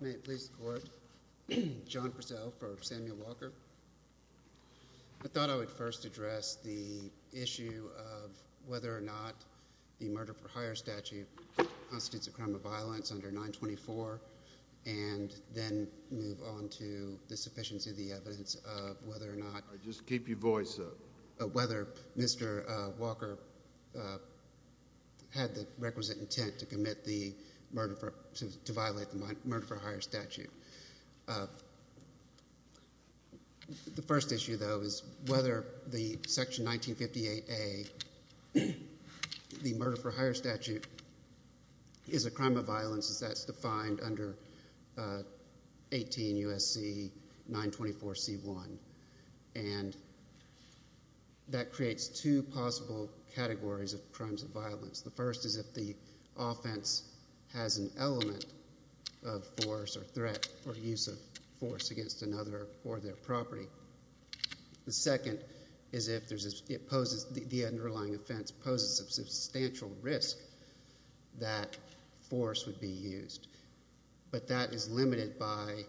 I thought I would first address the issue of whether or not the murder-for-hire statute constitutes a crime of violence under 924, and then move on to the sufficiency of the evidence of whether or not Mr. Walker had the requisite intent to commit the murder to violate the murder-for-hire statute. The first issue, though, is whether Section 1958A, the murder-for-hire statute, is a crime of violence as that's defined under 18 U.S.C. 924C1. And that creates two possible categories of crimes of violence. The first is if the offense has an element of force or threat or use of force against another or their property. The second is if the underlying offense poses a substantial risk that force would be used. But that is limited by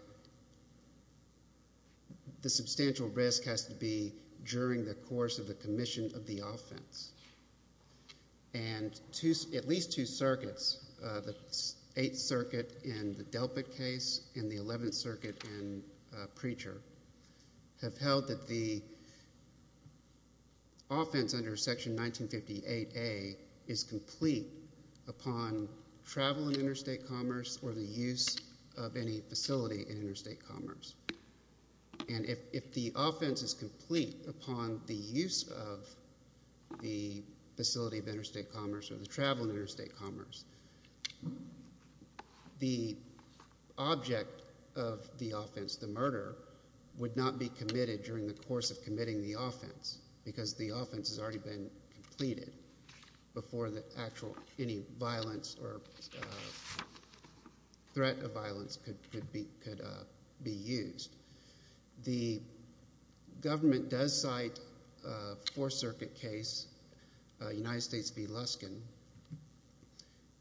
the substantial risk has to be during the course of the commission of the offense. And at least two circuits, the Eighth Circuit in the Delpit case and the Eleventh Circuit in Preacher, have held that the offense under Section 1958A is complete upon travel in interstate commerce or the use of any facility in interstate commerce. And if the offense is complete upon the use of the facility of interstate commerce or the travel in interstate commerce, the object of the offense, the murder, would not be committed during the course of committing the offense because the offense has already been completed before any violence or threat of violence could be used. The government does cite a Fourth Circuit case, United States v. Luskin,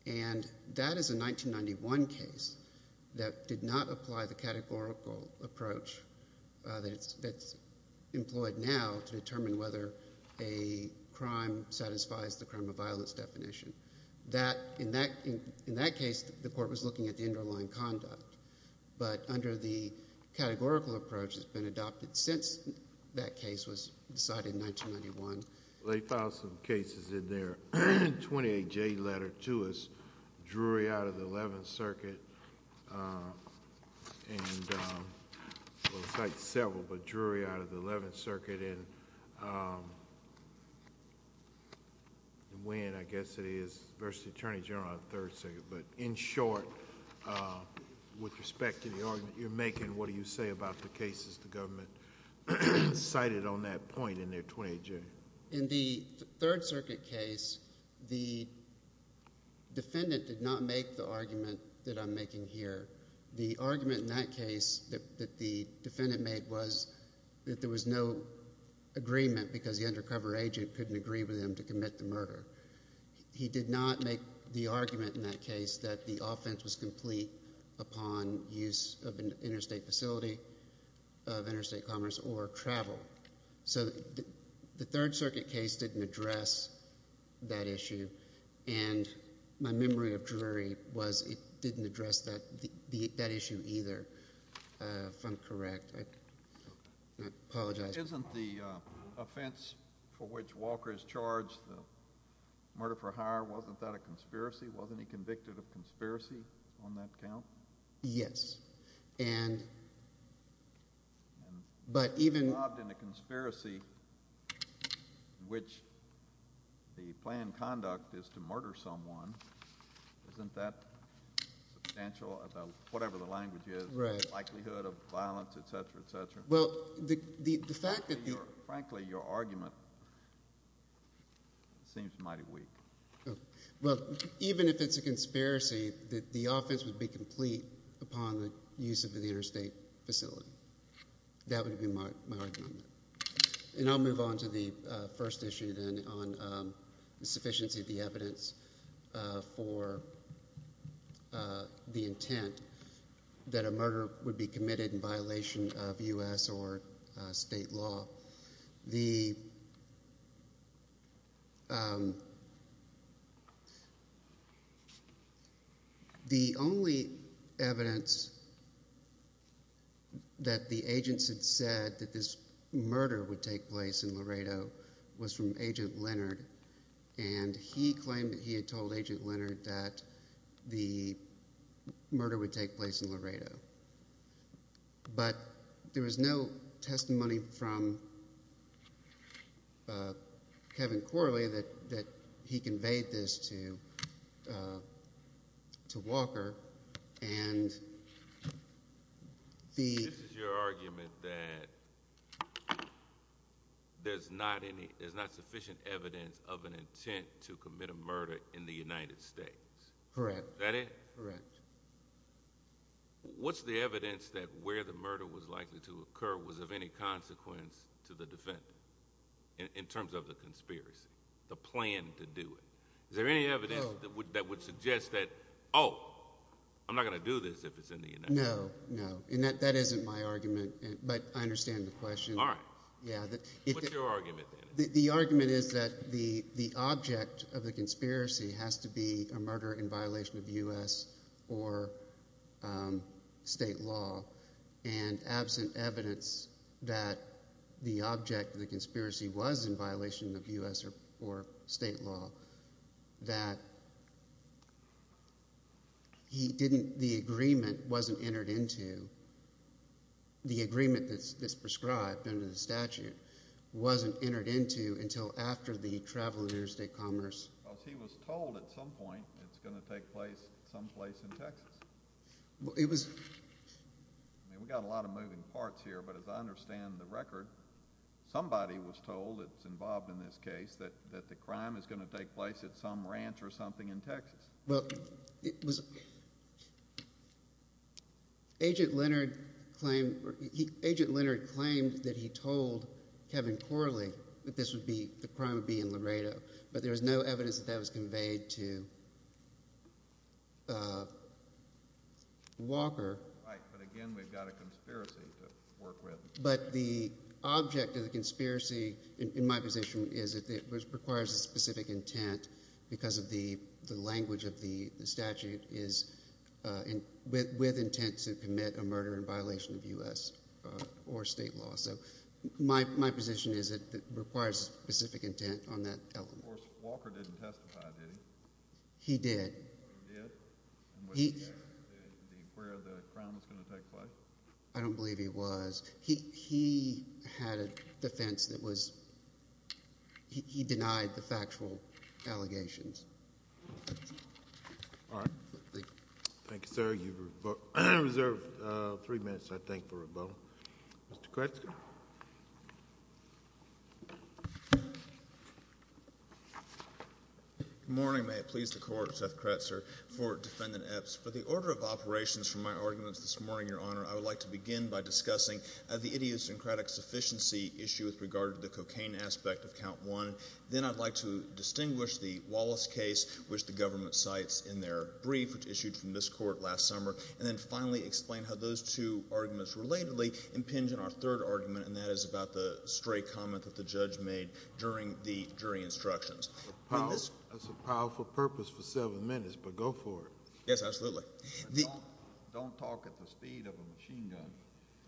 and that is a 1991 case that did not apply the categorical approach that's employed now to determine whether a crime satisfies the crime of violence definition. In that case, the court was looking at the underlying conduct, but under the categorical approach that's been adopted since that case was decided in 1991. They filed some cases in their 28J letter to us, Drury out of the Eleventh Circuit, and we'll cite several, but Drury out of the Eleventh Circuit and Winn, I guess it is, v. Attorney General out of the Third Circuit. But in short, with respect to the argument you're making, what do you say about the cases the government cited on that point in their 28J? In the Third Circuit case, the defendant did not make the argument that I'm making here. The argument in that case that the defendant made was that there was no agreement because the undercover agent couldn't agree with him to commit the murder. He did not make the argument in that case that the offense was complete upon use of an interstate facility, of interstate commerce, or travel. So the Third Circuit case didn't address that issue, and my memory of Drury was it didn't address that issue either, if I'm correct. I apologize. Isn't the offense for which Walker is charged, the murder for hire, wasn't that a conspiracy? Wasn't he convicted of conspiracy on that count? Yes. And if he's involved in a conspiracy in which the planned conduct is to murder someone, isn't that substantial about whatever the language is, the likelihood of violence, et cetera, et cetera? Well, the fact that the— Frankly, your argument seems mighty weak. Well, even if it's a conspiracy, the offense would be complete upon the use of an interstate facility. That would be my argument. And I'll move on to the first issue then on the sufficiency of the evidence for the intent that a murder would be committed in violation of U.S. or state law. The only evidence that the agents had said that this murder would take place in Laredo was from Agent Leonard, and he claimed that he had told Agent Leonard that the murder would take place in Laredo. But there was no testimony from Kevin Corley that he conveyed this to Walker, and the— This is your argument that there's not sufficient evidence of an intent to commit a murder in the United States. Correct. Is that it? Correct. What's the evidence that where the murder was likely to occur was of any consequence to the defendant in terms of the conspiracy, the plan to do it? Is there any evidence that would suggest that, oh, I'm not going to do this if it's in the United States? No, no. And that isn't my argument, but I understand the question. All right. What's your argument then? The argument is that the object of the conspiracy has to be a murder in violation of U.S. or state law, and absent evidence that the object of the conspiracy was in violation of U.S. or state law, that he didn't—the agreement wasn't entered into—the agreement that's prescribed under the statute wasn't entered into until after the travel interstate commerce. Well, he was told at some point it's going to take place someplace in Texas. Well, it was— I mean, we've got a lot of moving parts here, but as I understand the record, somebody was told that's involved in this case that the crime is going to take place at some ranch or something in Texas. Well, it was—Agent Leonard claimed that he told Kevin Corley that this would be—the crime would be in Laredo, but there was no evidence that that was conveyed to Walker. Right, but again, we've got a conspiracy to work with. But the object of the conspiracy in my position is it requires a specific intent because of the language of the statute is with intent to commit a murder in violation of U.S. or state law. So my position is it requires specific intent on that element. Of course, Walker didn't testify, did he? He did. He did? He— And was he there where the crime was going to take place? I don't believe he was. He had a defense that was—he denied the factual allegations. All right. Thank you. Thank you, sir. You've reserved three minutes, I think, for rebuttal. Mr. Kretzker. Good morning. May it please the Court. Seth Kretzker for Defendant Epps. For the order of operations for my arguments this morning, Your Honor, I would like to begin by discussing the idiosyncratic sufficiency issue with regard to the cocaine aspect of Count 1. Then I'd like to distinguish the Wallace case, which the government cites in their brief, which issued from this Court last summer, and then finally explain how those two arguments relatedly impinge on our third argument, and that is about the stray comment that the judge made during the jury instructions. That's a powerful purpose for seven minutes, but go for it. Yes, absolutely. Don't talk at the speed of a machine gun.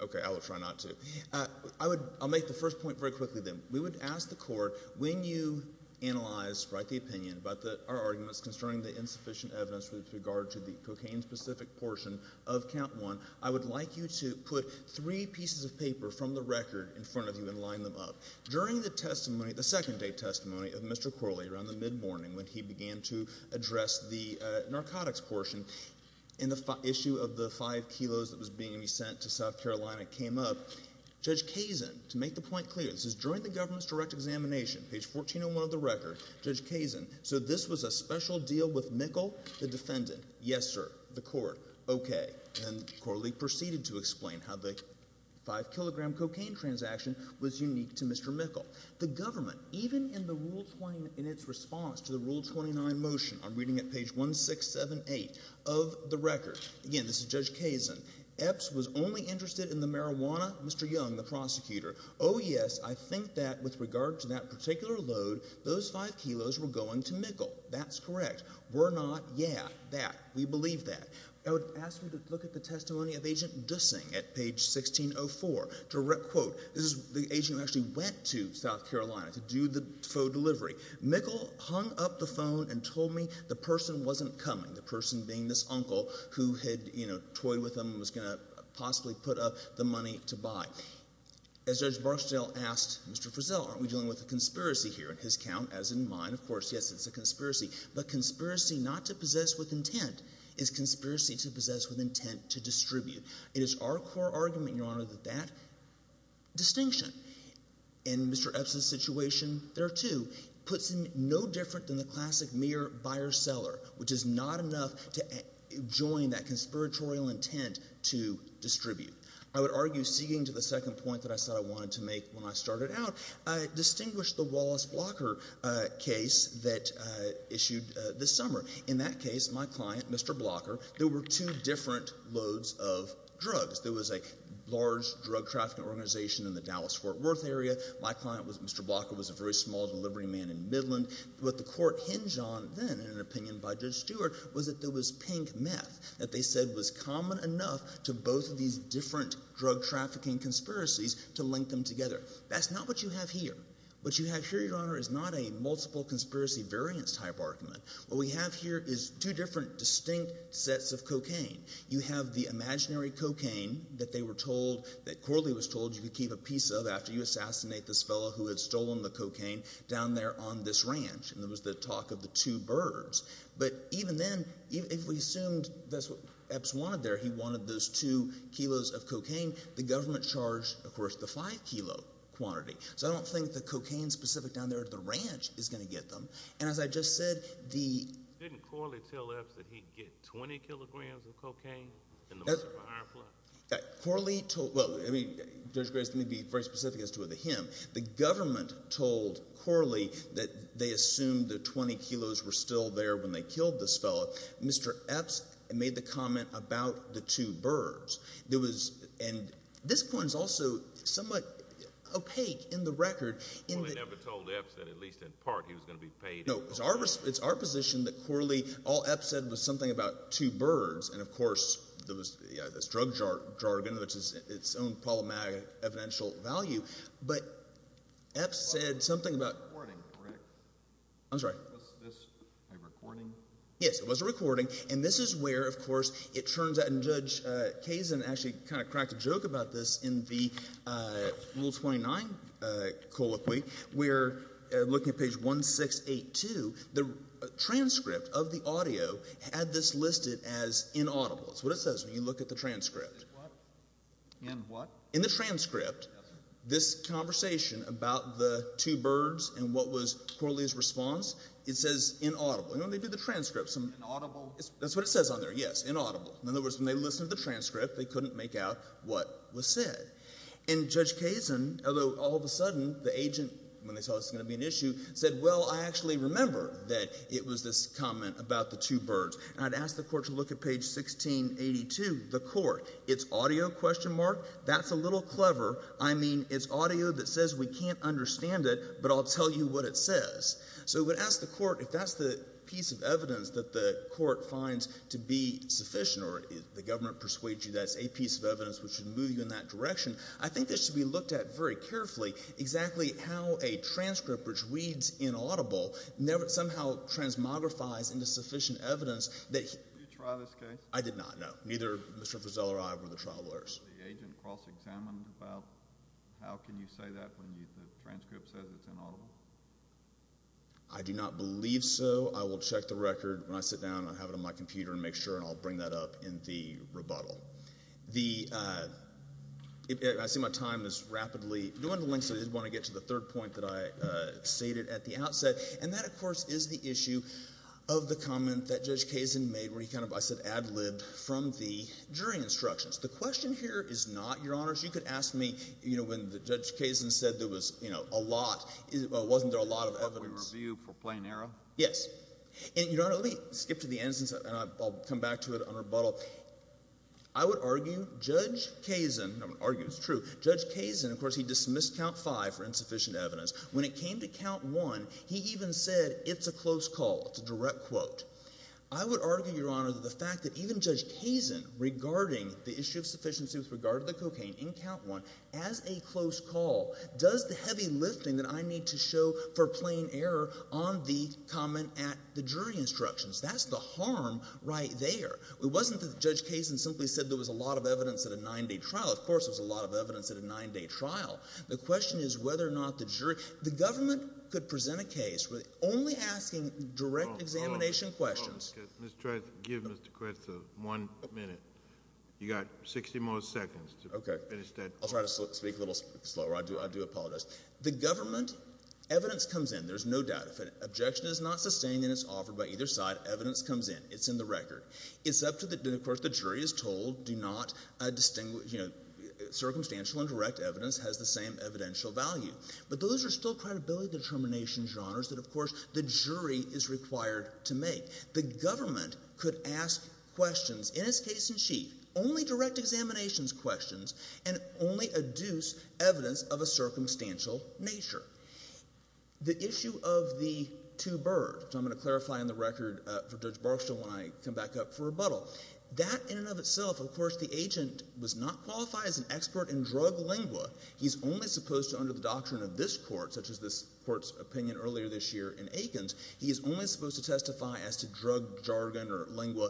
Okay. I will try not to. I'll make the first point very quickly, then. We would ask the Court, when you analyze, write the opinion about our arguments concerning the insufficient evidence with regard to the cocaine-specific portion of Count 1, I would like you to put three pieces of paper from the record in front of you and line them up. During the testimony, the second-day testimony of Mr. Corley around the mid-morning when he began to address the narcotics portion, and the issue of the 5 kilos that was being sent to South Carolina came up, Judge Kazin, to make the point clear, this is during the government's direct examination, page 1401 of the record, Judge Kazin, said this was a special deal with Mikkel, the defendant. Yes, sir, the Court. Okay. And Corley proceeded to explain how the 5-kilogram cocaine transaction was unique to Mr. Mikkel. The government, even in its response to the Rule 29 motion, I'm reading at page 1678 of the record. Again, this is Judge Kazin. Epps was only interested in the marijuana, Mr. Young, the prosecutor. Oh, yes, I think that with regard to that particular load, those 5 kilos were going to Mikkel. That's correct. Were not. Yeah, that. We believe that. I would ask you to look at the testimony of Agent Dussing at page 1604. Direct quote. This is the agent who actually went to South Carolina to do the faux delivery. Mikkel hung up the phone and told me the person wasn't coming, the person being this uncle who had, you know, toyed with him and was going to possibly put up the money to buy. As Judge Barksdale asked Mr. Frizzell, aren't we dealing with a conspiracy here? In his account, as in mine, of course, yes, it's a conspiracy. But conspiracy not to possess with intent is conspiracy to possess with intent to distribute. It is our core argument, Your Honor, that that distinction in Mr. Epps' situation there, too, puts him no different than the classic mere buyer-seller, which is not enough to join that conspiratorial intent to distribute. I would argue, ceding to the second point that I said I wanted to make when I started out, distinguish the Wallace Blocker case that issued this summer. In that case, my client, Mr. Blocker, there were two different loads of drugs. There was a large drug trafficking organization in the Dallas-Fort Worth area. My client, Mr. Blocker, was a very small delivery man in Midland. What the Court hinged on then in an opinion by Judge Stewart was that there was pink meth that they said was common enough to both of these different drug trafficking conspiracies to link them together. That's not what you have here. What you have here, Your Honor, is not a multiple conspiracy variance type argument. What we have here is two different distinct sets of cocaine. You have the imaginary cocaine that they were told, that Corley was told, you could keep a piece of after you assassinate this fellow who had stolen the cocaine down there on this ranch. And there was the talk of the two birds. But even then, if we assumed that's what Epps wanted there, he wanted those two kilos of cocaine, the government charged, of course, the five-kilo quantity. So I don't think the cocaine specific down there at the ranch is going to get them. And as I just said, the – Didn't Corley tell Epps that he'd get 20 kilograms of cocaine in the murder of a hired plumber? Corley told – well, I mean, Judge Graves, let me be very specific as to whether him. The government told Corley that they assumed the 20 kilos were still there when they killed this fellow. Mr. Epps made the comment about the two birds. There was – and this point is also somewhat opaque in the record. Corley never told Epps that at least in part he was going to be paid – No, it's our position that Corley – all Epps said was something about two birds. And, of course, there was this drug jargon, which is its own problematic evidential value. But Epps said something about – It was a recording, correct? I'm sorry. Was this a recording? Yes, it was a recording. And this is where, of course, it turns out – Judge Kazin actually kind of cracked a joke about this in the Rule 29 colloquy. We're looking at page 1682. The transcript of the audio had this listed as inaudible. That's what it says when you look at the transcript. In what? In the transcript, this conversation about the two birds and what was Corley's response, it says inaudible. And when they do the transcript, some – Inaudible. That's what it says on there, yes, inaudible. In other words, when they listened to the transcript, they couldn't make out what was said. And Judge Kazin, although all of a sudden the agent, when they saw this was going to be an issue, said, Well, I actually remember that it was this comment about the two birds. And I'd ask the court to look at page 1682, the court. It's audio? That's a little clever. I mean, it's audio that says we can't understand it, but I'll tell you what it says. So I would ask the court if that's the piece of evidence that the court finds to be sufficient or if the government persuades you that's a piece of evidence which should move you in that direction. I think this should be looked at very carefully, exactly how a transcript which reads inaudible somehow transmogrifies into sufficient evidence that – Did you try this case? I did not, no. Neither Mr. Fussell or I were the trial lawyers. Was the agent cross-examined about how can you say that when the transcript says it's inaudible? I do not believe so. I will check the record when I sit down. I'll have it on my computer and make sure, and I'll bring that up in the rebuttal. The – I see my time is rapidly – I did want to get to the third point that I stated at the outset, and that, of course, is the issue of the comment that Judge Kazin made where he kind of, I said, ad-libbed from the jury instructions. The question here is not, Your Honors. You could ask me, you know, when Judge Kazin said there was, you know, a lot – well, wasn't there a lot of evidence? The publicly reviewed for plain error? Yes. And, Your Honor, let me skip to the end and I'll come back to it on rebuttal. I would argue Judge Kazin – I'm going to argue it's true. Judge Kazin, of course, he dismissed Count 5 for insufficient evidence. When it came to Count 1, he even said it's a close call, it's a direct quote. I would argue, Your Honor, that the fact that even Judge Kazin, regarding the issue of sufficiency with regard to the cocaine in Count 1, as a close call does the heavy lifting that I need to show for plain error on the comment at the jury instructions. That's the harm right there. It wasn't that Judge Kazin simply said there was a lot of evidence at a nine-day trial. Of course, there was a lot of evidence at a nine-day trial. We're only asking direct examination questions. Let's try to give Mr. Quirt one minute. You've got 60 more seconds to finish that. I'll try to speak a little slower. I do apologize. The government, evidence comes in. There's no doubt. If an objection is not sustained and it's offered by either side, evidence comes in. It's in the record. It's up to the – and, of course, the jury is told do not distinguish – circumstantial and direct evidence has the same evidential value. But those are still credibility determination genres that, of course, the jury is required to make. The government could ask questions, in its case in chief, only direct examinations questions and only adduce evidence of a circumstantial nature. The issue of the two bird, which I'm going to clarify in the record for Judge Barksdale when I come back up for rebuttal, that in and of itself, of course, the agent was not qualified as an expert in drug lingua. He's only supposed to, under the doctrine of this court, such as this court's opinion earlier this year in Aikens, he is only supposed to testify as to drug jargon or lingua.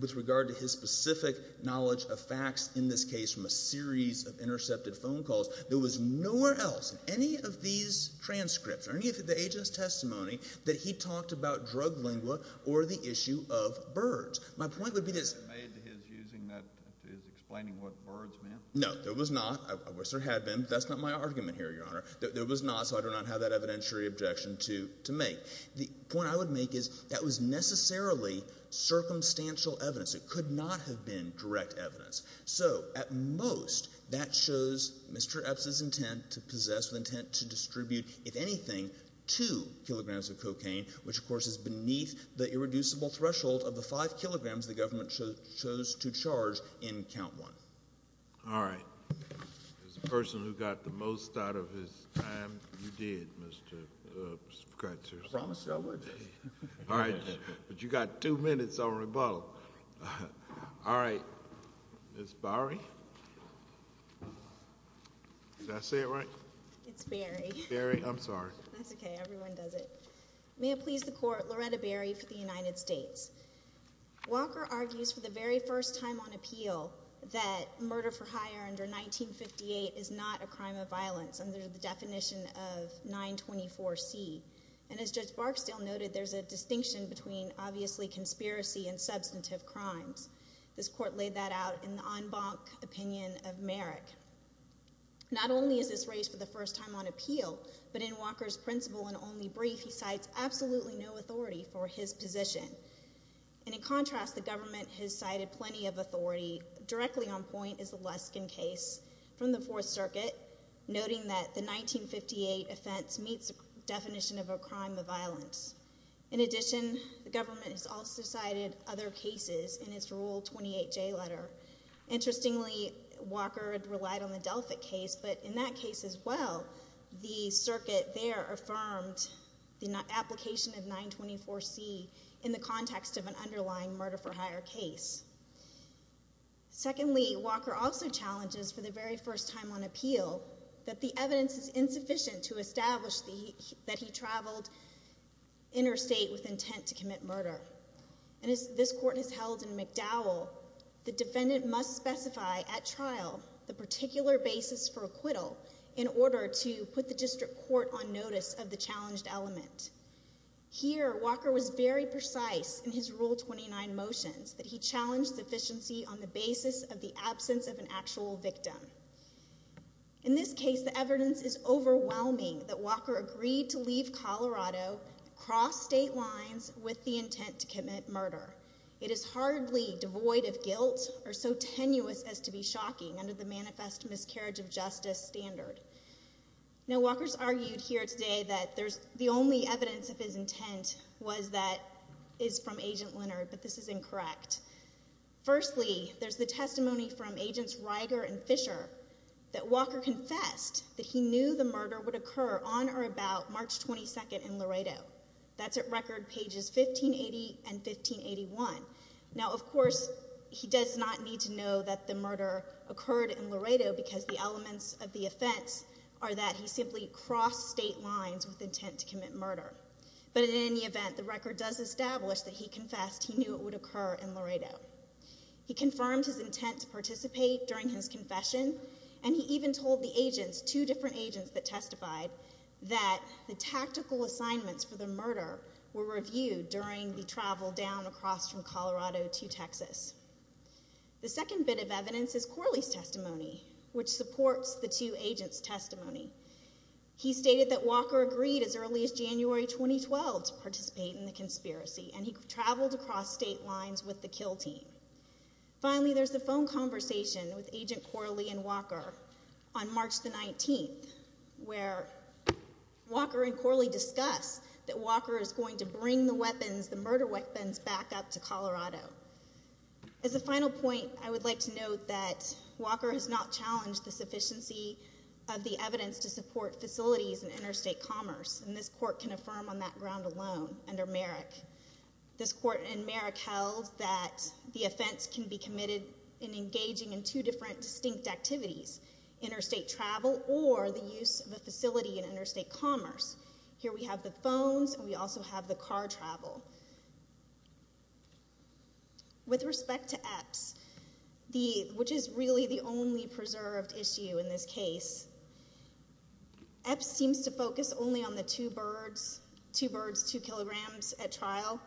With regard to his specific knowledge of facts in this case from a series of intercepted phone calls, there was nowhere else in any of these transcripts or any of the agent's testimony that he talked about drug lingua or the issue of birds. My point would be this. He made his using that – his explaining what birds meant? No, there was not. I wish there had been, but that's not my argument here, Your Honor. There was not, so I do not have that evidentiary objection to make. The point I would make is that was necessarily circumstantial evidence. It could not have been direct evidence. So at most, that shows Mr. Epps' intent to possess, the intent to distribute, if anything, two kilograms of cocaine, which, of course, is beneath the irreducible threshold of the five kilograms the government chose to charge in count one. All right. As a person who got the most out of his time, you did, Mr. Crutcher. I promised I would. All right. But you got two minutes on rebuttal. All right. Ms. Bowery? Did I say it right? It's Berry. Berry. I'm sorry. That's okay. Everyone does it. May it please the Court, Loretta Berry for the United States. Walker argues for the very first time on appeal that murder for hire under 1958 is not a crime of violence under the definition of 924C. And as Judge Barksdale noted, there's a distinction between, obviously, conspiracy and substantive crimes. This Court laid that out in the en banc opinion of Merrick. Not only is this raised for the first time on appeal, but in Walker's principle and only brief, he cites absolutely no authority for his position. And in contrast, the government has cited plenty of authority. Directly on point is the Luskin case from the Fourth Circuit, noting that the 1958 offense meets the definition of a crime of violence. In addition, the government has also cited other cases in its Rule 28J letter. Interestingly, Walker relied on the Delphic case, but in that case as well, the circuit there affirmed the application of 924C in the context of an underlying murder for hire case. Secondly, Walker also challenges for the very first time on appeal that the evidence is insufficient to establish that he traveled interstate with intent to commit murder. And as this Court has held in McDowell, the defendant must specify at trial the particular basis for acquittal in order to put the district court on notice of the challenged element. Here, Walker was very precise in his Rule 29 motions that he challenged sufficiency on the basis of the absence of an actual victim. In this case, the evidence is overwhelming that Walker agreed to leave Colorado, cross state lines, with the intent to commit murder. It is hardly devoid of guilt or so tenuous as to be shocking under the manifest miscarriage of justice standard. Now, Walker's argued here today that the only evidence of his intent is from Agent Leonard, but this is incorrect. Firstly, there's the testimony from Agents Ryger and Fisher that Walker confessed that he knew the murder would occur on or about March 22nd in Laredo. That's at record pages 1580 and 1581. Now, of course, he does not need to know that the murder occurred in Laredo because the elements of the offense are that he simply crossed state lines with intent to commit murder. But in any event, the record does establish that he confessed he knew it would occur in Laredo. He confirmed his intent to participate during his confession, and he even told the agents, two different agents that testified, that the tactical assignments for the murder were reviewed during the travel down across from Colorado to Texas. The second bit of evidence is Corley's testimony, which supports the two agents' testimony. He stated that Walker agreed as early as January 2012 to participate in the conspiracy, and he traveled across state lines with the kill team. Finally, there's the phone conversation with Agent Corley and Walker on March 19th where Walker and Corley discuss that Walker is going to bring the weapons, the murder weapons, back up to Colorado. As a final point, I would like to note that Walker has not challenged the sufficiency of the evidence to support facilities in interstate commerce, and this court can affirm on that ground alone under Merrick. This court in Merrick held that the offense can be committed in engaging in two different distinct activities, interstate travel or the use of a facility in interstate commerce. Here we have the phones, and we also have the car travel. With respect to Epps, which is really the only preserved issue in this case, Epps seems to focus only on the two birds, two birds, two kilograms at trial.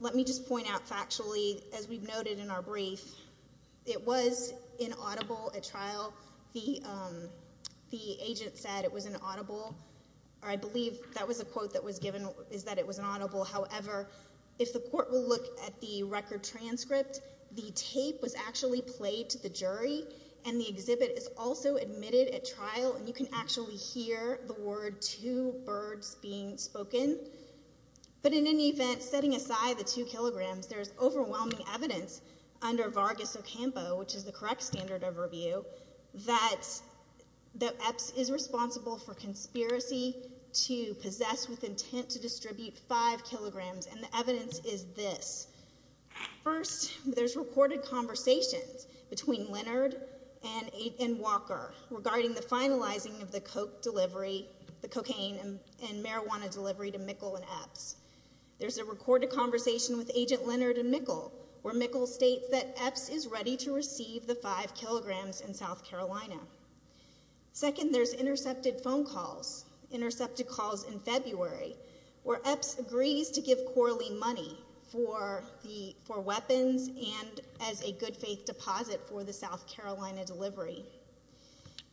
Let me just point out factually, as we've noted in our brief, it was inaudible at trial. The agent said it was inaudible, or I believe that was a quote that was given is that it was inaudible. However, if the court will look at the record transcript, the tape was actually played to the jury, and the exhibit is also admitted at trial, and you can actually hear the word two birds being spoken. But in any event, setting aside the two kilograms, there's overwhelming evidence under Vargas Ocampo, which is the correct standard of review, that Epps is responsible for conspiracy to possess with intent to distribute five kilograms, and the evidence is this. First, there's recorded conversations between Leonard and Walker regarding the finalizing of the cocaine and marijuana delivery to Mikkel and Epps. There's a recorded conversation with Agent Leonard and Mikkel, where Mikkel states that Epps is ready to receive the five kilograms in South Carolina. Second, there's intercepted phone calls, intercepted calls in February, where Epps agrees to give Corley money for weapons and as a good-faith deposit for the South Carolina delivery.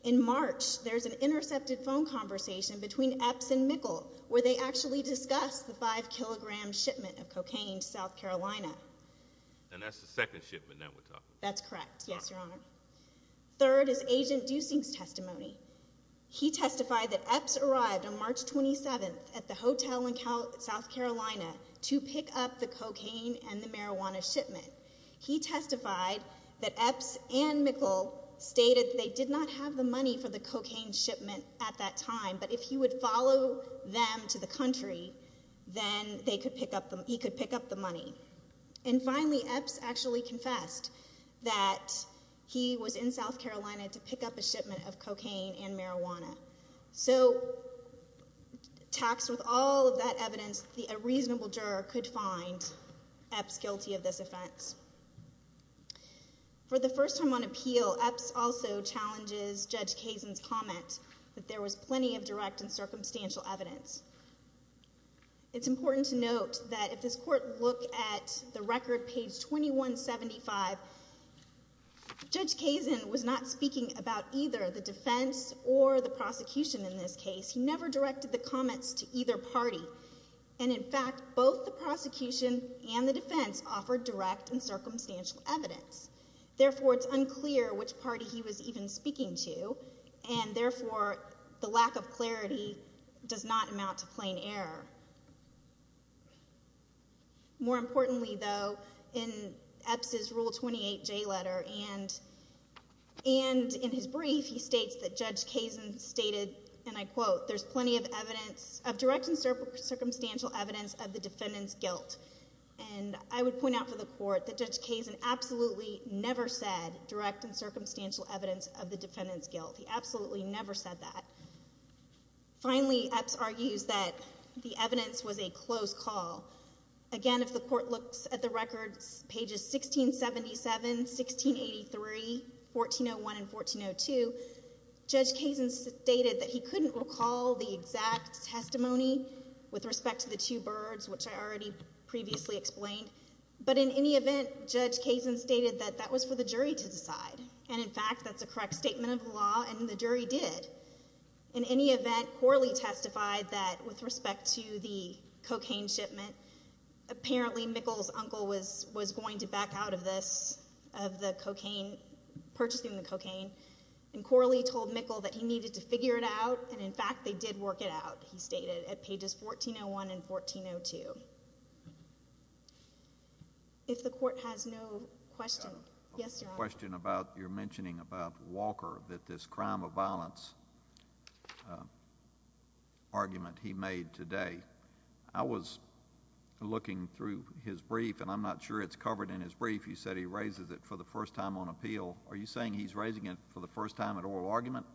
In March, there's an intercepted phone conversation between Epps and Mikkel where they actually discuss the five-kilogram shipment of cocaine to South Carolina. And that's the second shipment that we're talking about? That's correct, yes, Your Honor. Third is Agent Duesing's testimony. He testified that Epps arrived on March 27th at the hotel in South Carolina to pick up the cocaine and the marijuana shipment. He testified that Epps and Mikkel stated they did not have the money for the cocaine shipment at that time, but if he would follow them to the country, then he could pick up the money. And finally, Epps actually confessed that he was in South Carolina to pick up a shipment of cocaine and marijuana. So, taxed with all of that evidence, a reasonable juror could find Epps guilty of this offense. For the first time on appeal, Epps also challenges Judge Kazin's comment that there was plenty of direct and circumstantial evidence. It's important to note that if this court looked at the record, page 2175, Judge Kazin was not speaking about either the defense or the prosecution in this case. He never directed the comments to either party. And, in fact, both the prosecution and the defense offered direct and circumstantial evidence. Therefore, it's unclear which party he was even speaking to, and, therefore, the lack of clarity does not amount to plain error. More importantly, though, in Epps' Rule 28J letter and in his brief, he states that Judge Kazin stated, and I quote, there's plenty of direct and circumstantial evidence of the defendant's guilt. And I would point out for the court that Judge Kazin absolutely never said direct and circumstantial evidence of the defendant's guilt. He absolutely never said that. Finally, Epps argues that the evidence was a close call. Again, if the court looks at the records, pages 1677, 1683, 1401, and 1402, Judge Kazin stated that he couldn't recall the exact testimony with respect to the two birds, which I already previously explained. But, in any event, Judge Kazin stated that that was for the jury to decide. And, in fact, that's a correct statement of the law, and the jury did. In any event, Corley testified that with respect to the cocaine shipment, apparently Mikkel's uncle was going to back out of this, of the cocaine, purchasing the cocaine. And Corley told Mikkel that he needed to figure it out, and, in fact, they did work it out, he stated, at pages 1401 and 1402. If the court has no questions, yes, Your Honor. I have a question about your mentioning about Walker, that this crime of violence argument he made today. I was looking through his brief, and I'm not sure it's covered in his brief. You said he raises it for the first time on appeal. Are you saying he's raising it for the first time at oral argument,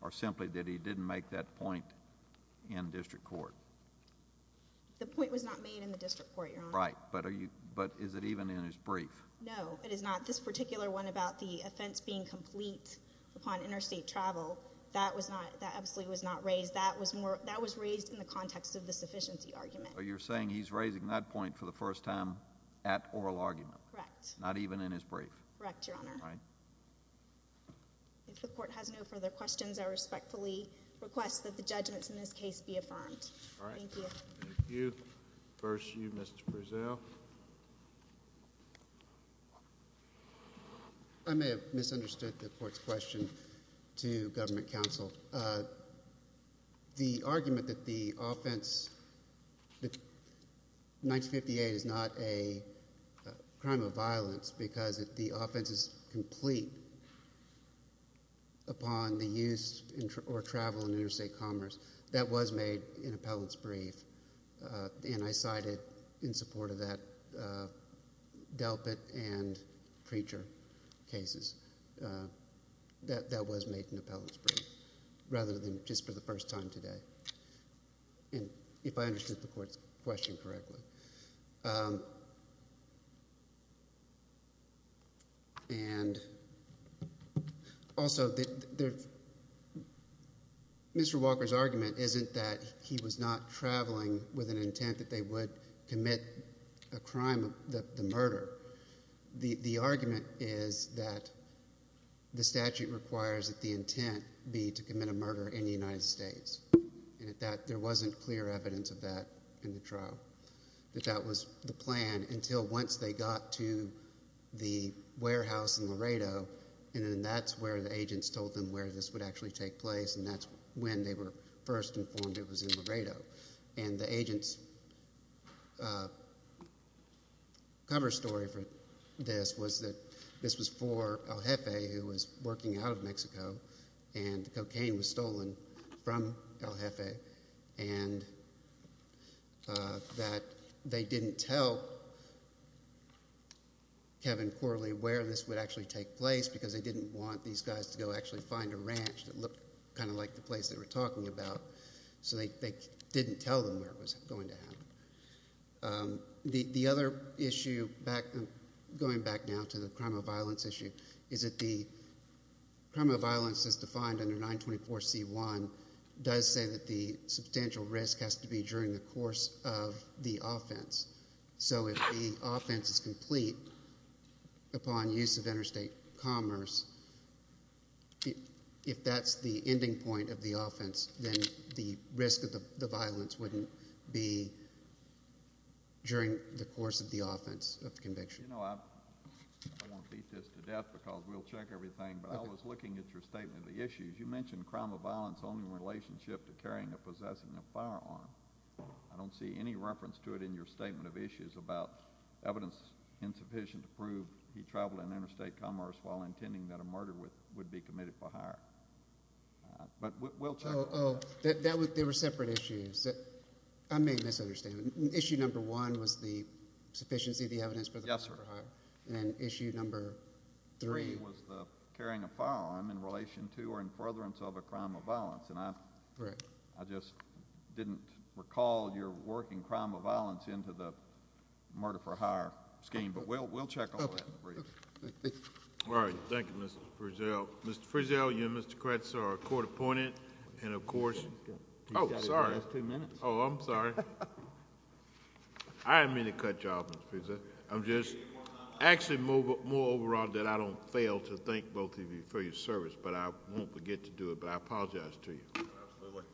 or simply that he didn't make that point in district court? The point was not made in the district court, Your Honor. Right, but is it even in his brief? No, it is not. This particular one about the offense being complete upon interstate travel, that absolutely was not raised. That was raised in the context of the sufficiency argument. So you're saying he's raising that point for the first time at oral argument? Correct. Not even in his brief? Correct, Your Honor. All right. If the court has no further questions, I respectfully request that the judgments in this case be affirmed. All right. Thank you. Thank you. First, you, Mr. Breazeale. I may have misunderstood the court's question to government counsel. The argument that the offense 1958 is not a crime of violence because the offense is complete upon the use or travel in interstate commerce, that was made in appellant's brief, and I cited in support of that Delpit and Preacher cases. That was made in appellant's brief rather than just for the first time today, if I understood the court's question correctly. And also, Mr. Walker's argument isn't that he was not traveling with an intent that they would commit a crime, the murder. The argument is that the statute requires that the intent be to commit a murder in the United States, and there wasn't clear evidence of that in the trial, that that was the plan until once they got to the warehouse in Laredo, and then that's where the agents told them where this would actually take place, and that's when they were first informed it was in Laredo. And the agent's cover story for this was that this was for El Jefe, who was working out of Mexico, and cocaine was stolen from El Jefe, and that they didn't tell Kevin Corley where this would actually take place because they didn't want these guys to go actually find a ranch that looked kind of like the place they were talking about, so they didn't tell them where it was going to happen. The other issue, going back now to the crime of violence issue, is that the crime of violence as defined under 924C1 does say that the substantial risk has to be during the course of the offense. So if the offense is complete upon use of interstate commerce, if that's the ending point of the offense, then the risk of the violence wouldn't be during the course of the offense of conviction. You know, I don't want to beat this to death because we'll check everything, but I was looking at your statement of the issues. You mentioned crime of violence only in relationship to carrying or possessing a firearm. I don't see any reference to it in your statement of issues about evidence insufficient to prove he traveled in interstate commerce while intending that a murder would be committed for hire. But we'll check. Oh, there were separate issues. I may have misunderstood. Issue number one was the sufficiency of the evidence for the murder for hire. Yes, sir. And issue number three was the carrying a firearm in relation to or in furtherance of a crime of violence. And I just didn't recall your working crime of violence into the murder for hire scheme, but we'll check all that in brief. All right. Thank you, Mr. Frizzell. Mr. Frizzell, you and Mr. Kretz are a court appointed, and of course— Oh, sorry. He's got to give us two minutes. Oh, I'm sorry. I didn't mean to cut you off, Mr. Frizzell. I'm just—actually, more overall, that I don't fail to thank both of you for your service, but I won't forget to do it. But I apologize to you. Absolutely.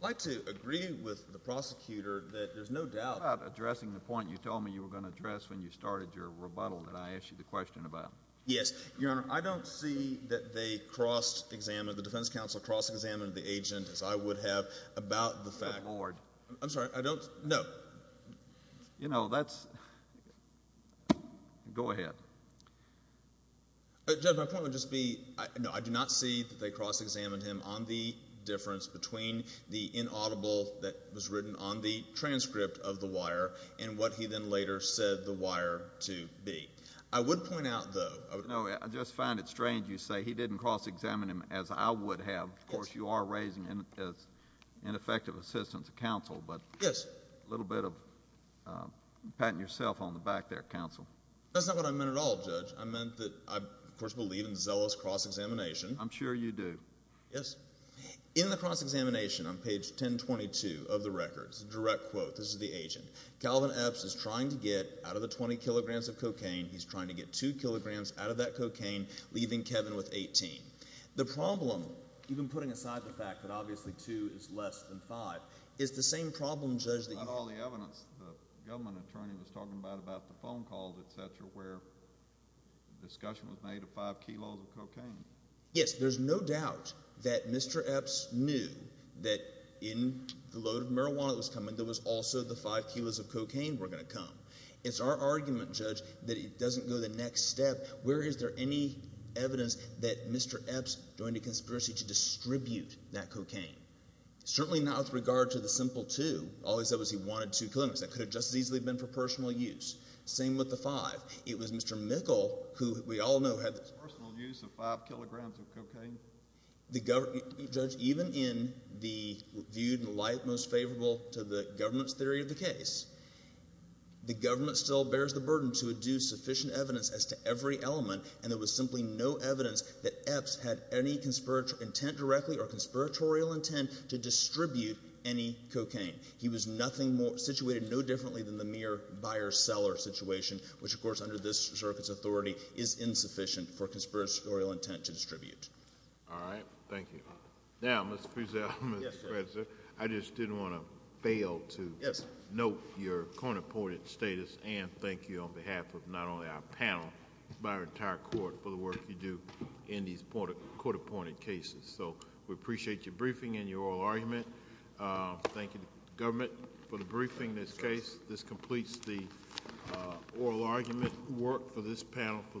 I'd like to agree with the prosecutor that there's no doubt— What about addressing the point you told me you were going to address when you started your rebuttal that I asked you the question about? Yes, Your Honor, I don't see that they cross-examined, as I would have, about the fact— Good Lord. I'm sorry. I don't—no. You know, that's—go ahead. Judge, my point would just be, no, I do not see that they cross-examined him on the difference between the inaudible that was written on the transcript of the wire and what he then later said the wire to be. I would point out, though— No, I just find it strange you say he didn't cross-examine him, as I would have. Of course, you are raising ineffective assistance to counsel. Yes. But a little bit of patting yourself on the back there, counsel. That's not what I meant at all, Judge. I meant that I, of course, believe in zealous cross-examination. I'm sure you do. Yes. In the cross-examination on page 1022 of the record, it's a direct quote. This is the agent. Calvin Epps is trying to get out of the 20 kilograms of cocaine, he's trying to get 2 kilograms out of that cocaine, leaving Kevin with 18. The problem, even putting aside the fact that obviously 2 is less than 5, is the same problem, Judge, that you— Not all the evidence. The government attorney was talking about the phone calls, etc., where the discussion was made of 5 kilos of cocaine. Yes. There's no doubt that Mr. Epps knew that in the load of marijuana that was coming, there was also the 5 kilos of cocaine were going to come. It's our argument, Judge, that it doesn't go the next step. Where is there any evidence that Mr. Epps joined a conspiracy to distribute that cocaine? Certainly not with regard to the simple 2. All he said was he wanted 2 kilograms. That could have just as easily been for personal use. Same with the 5. It was Mr. Mikkel who we all know had— Personal use of 5 kilograms of cocaine. Judge, even in the viewed in light most favorable to the government's theory of the case, the government still bears the burden to adduce sufficient evidence as to every element, and there was simply no evidence that Epps had any intent directly or conspiratorial intent to distribute any cocaine. He was nothing more—situated no differently than the mere buyer-seller situation, which, of course, under this circuit's authority, is insufficient for conspiratorial intent to distribute. All right. Thank you. Now, Mr. Fussell, Mr. Spencer, I just didn't want to fail to— Thank you for your court-appointed status, and thank you on behalf of not only our panel but our entire court for the work you do in these court-appointed cases. So we appreciate your briefing and your oral argument. Thank you to the government for the briefing in this case. This completes the oral argument work for this panel for this hearing.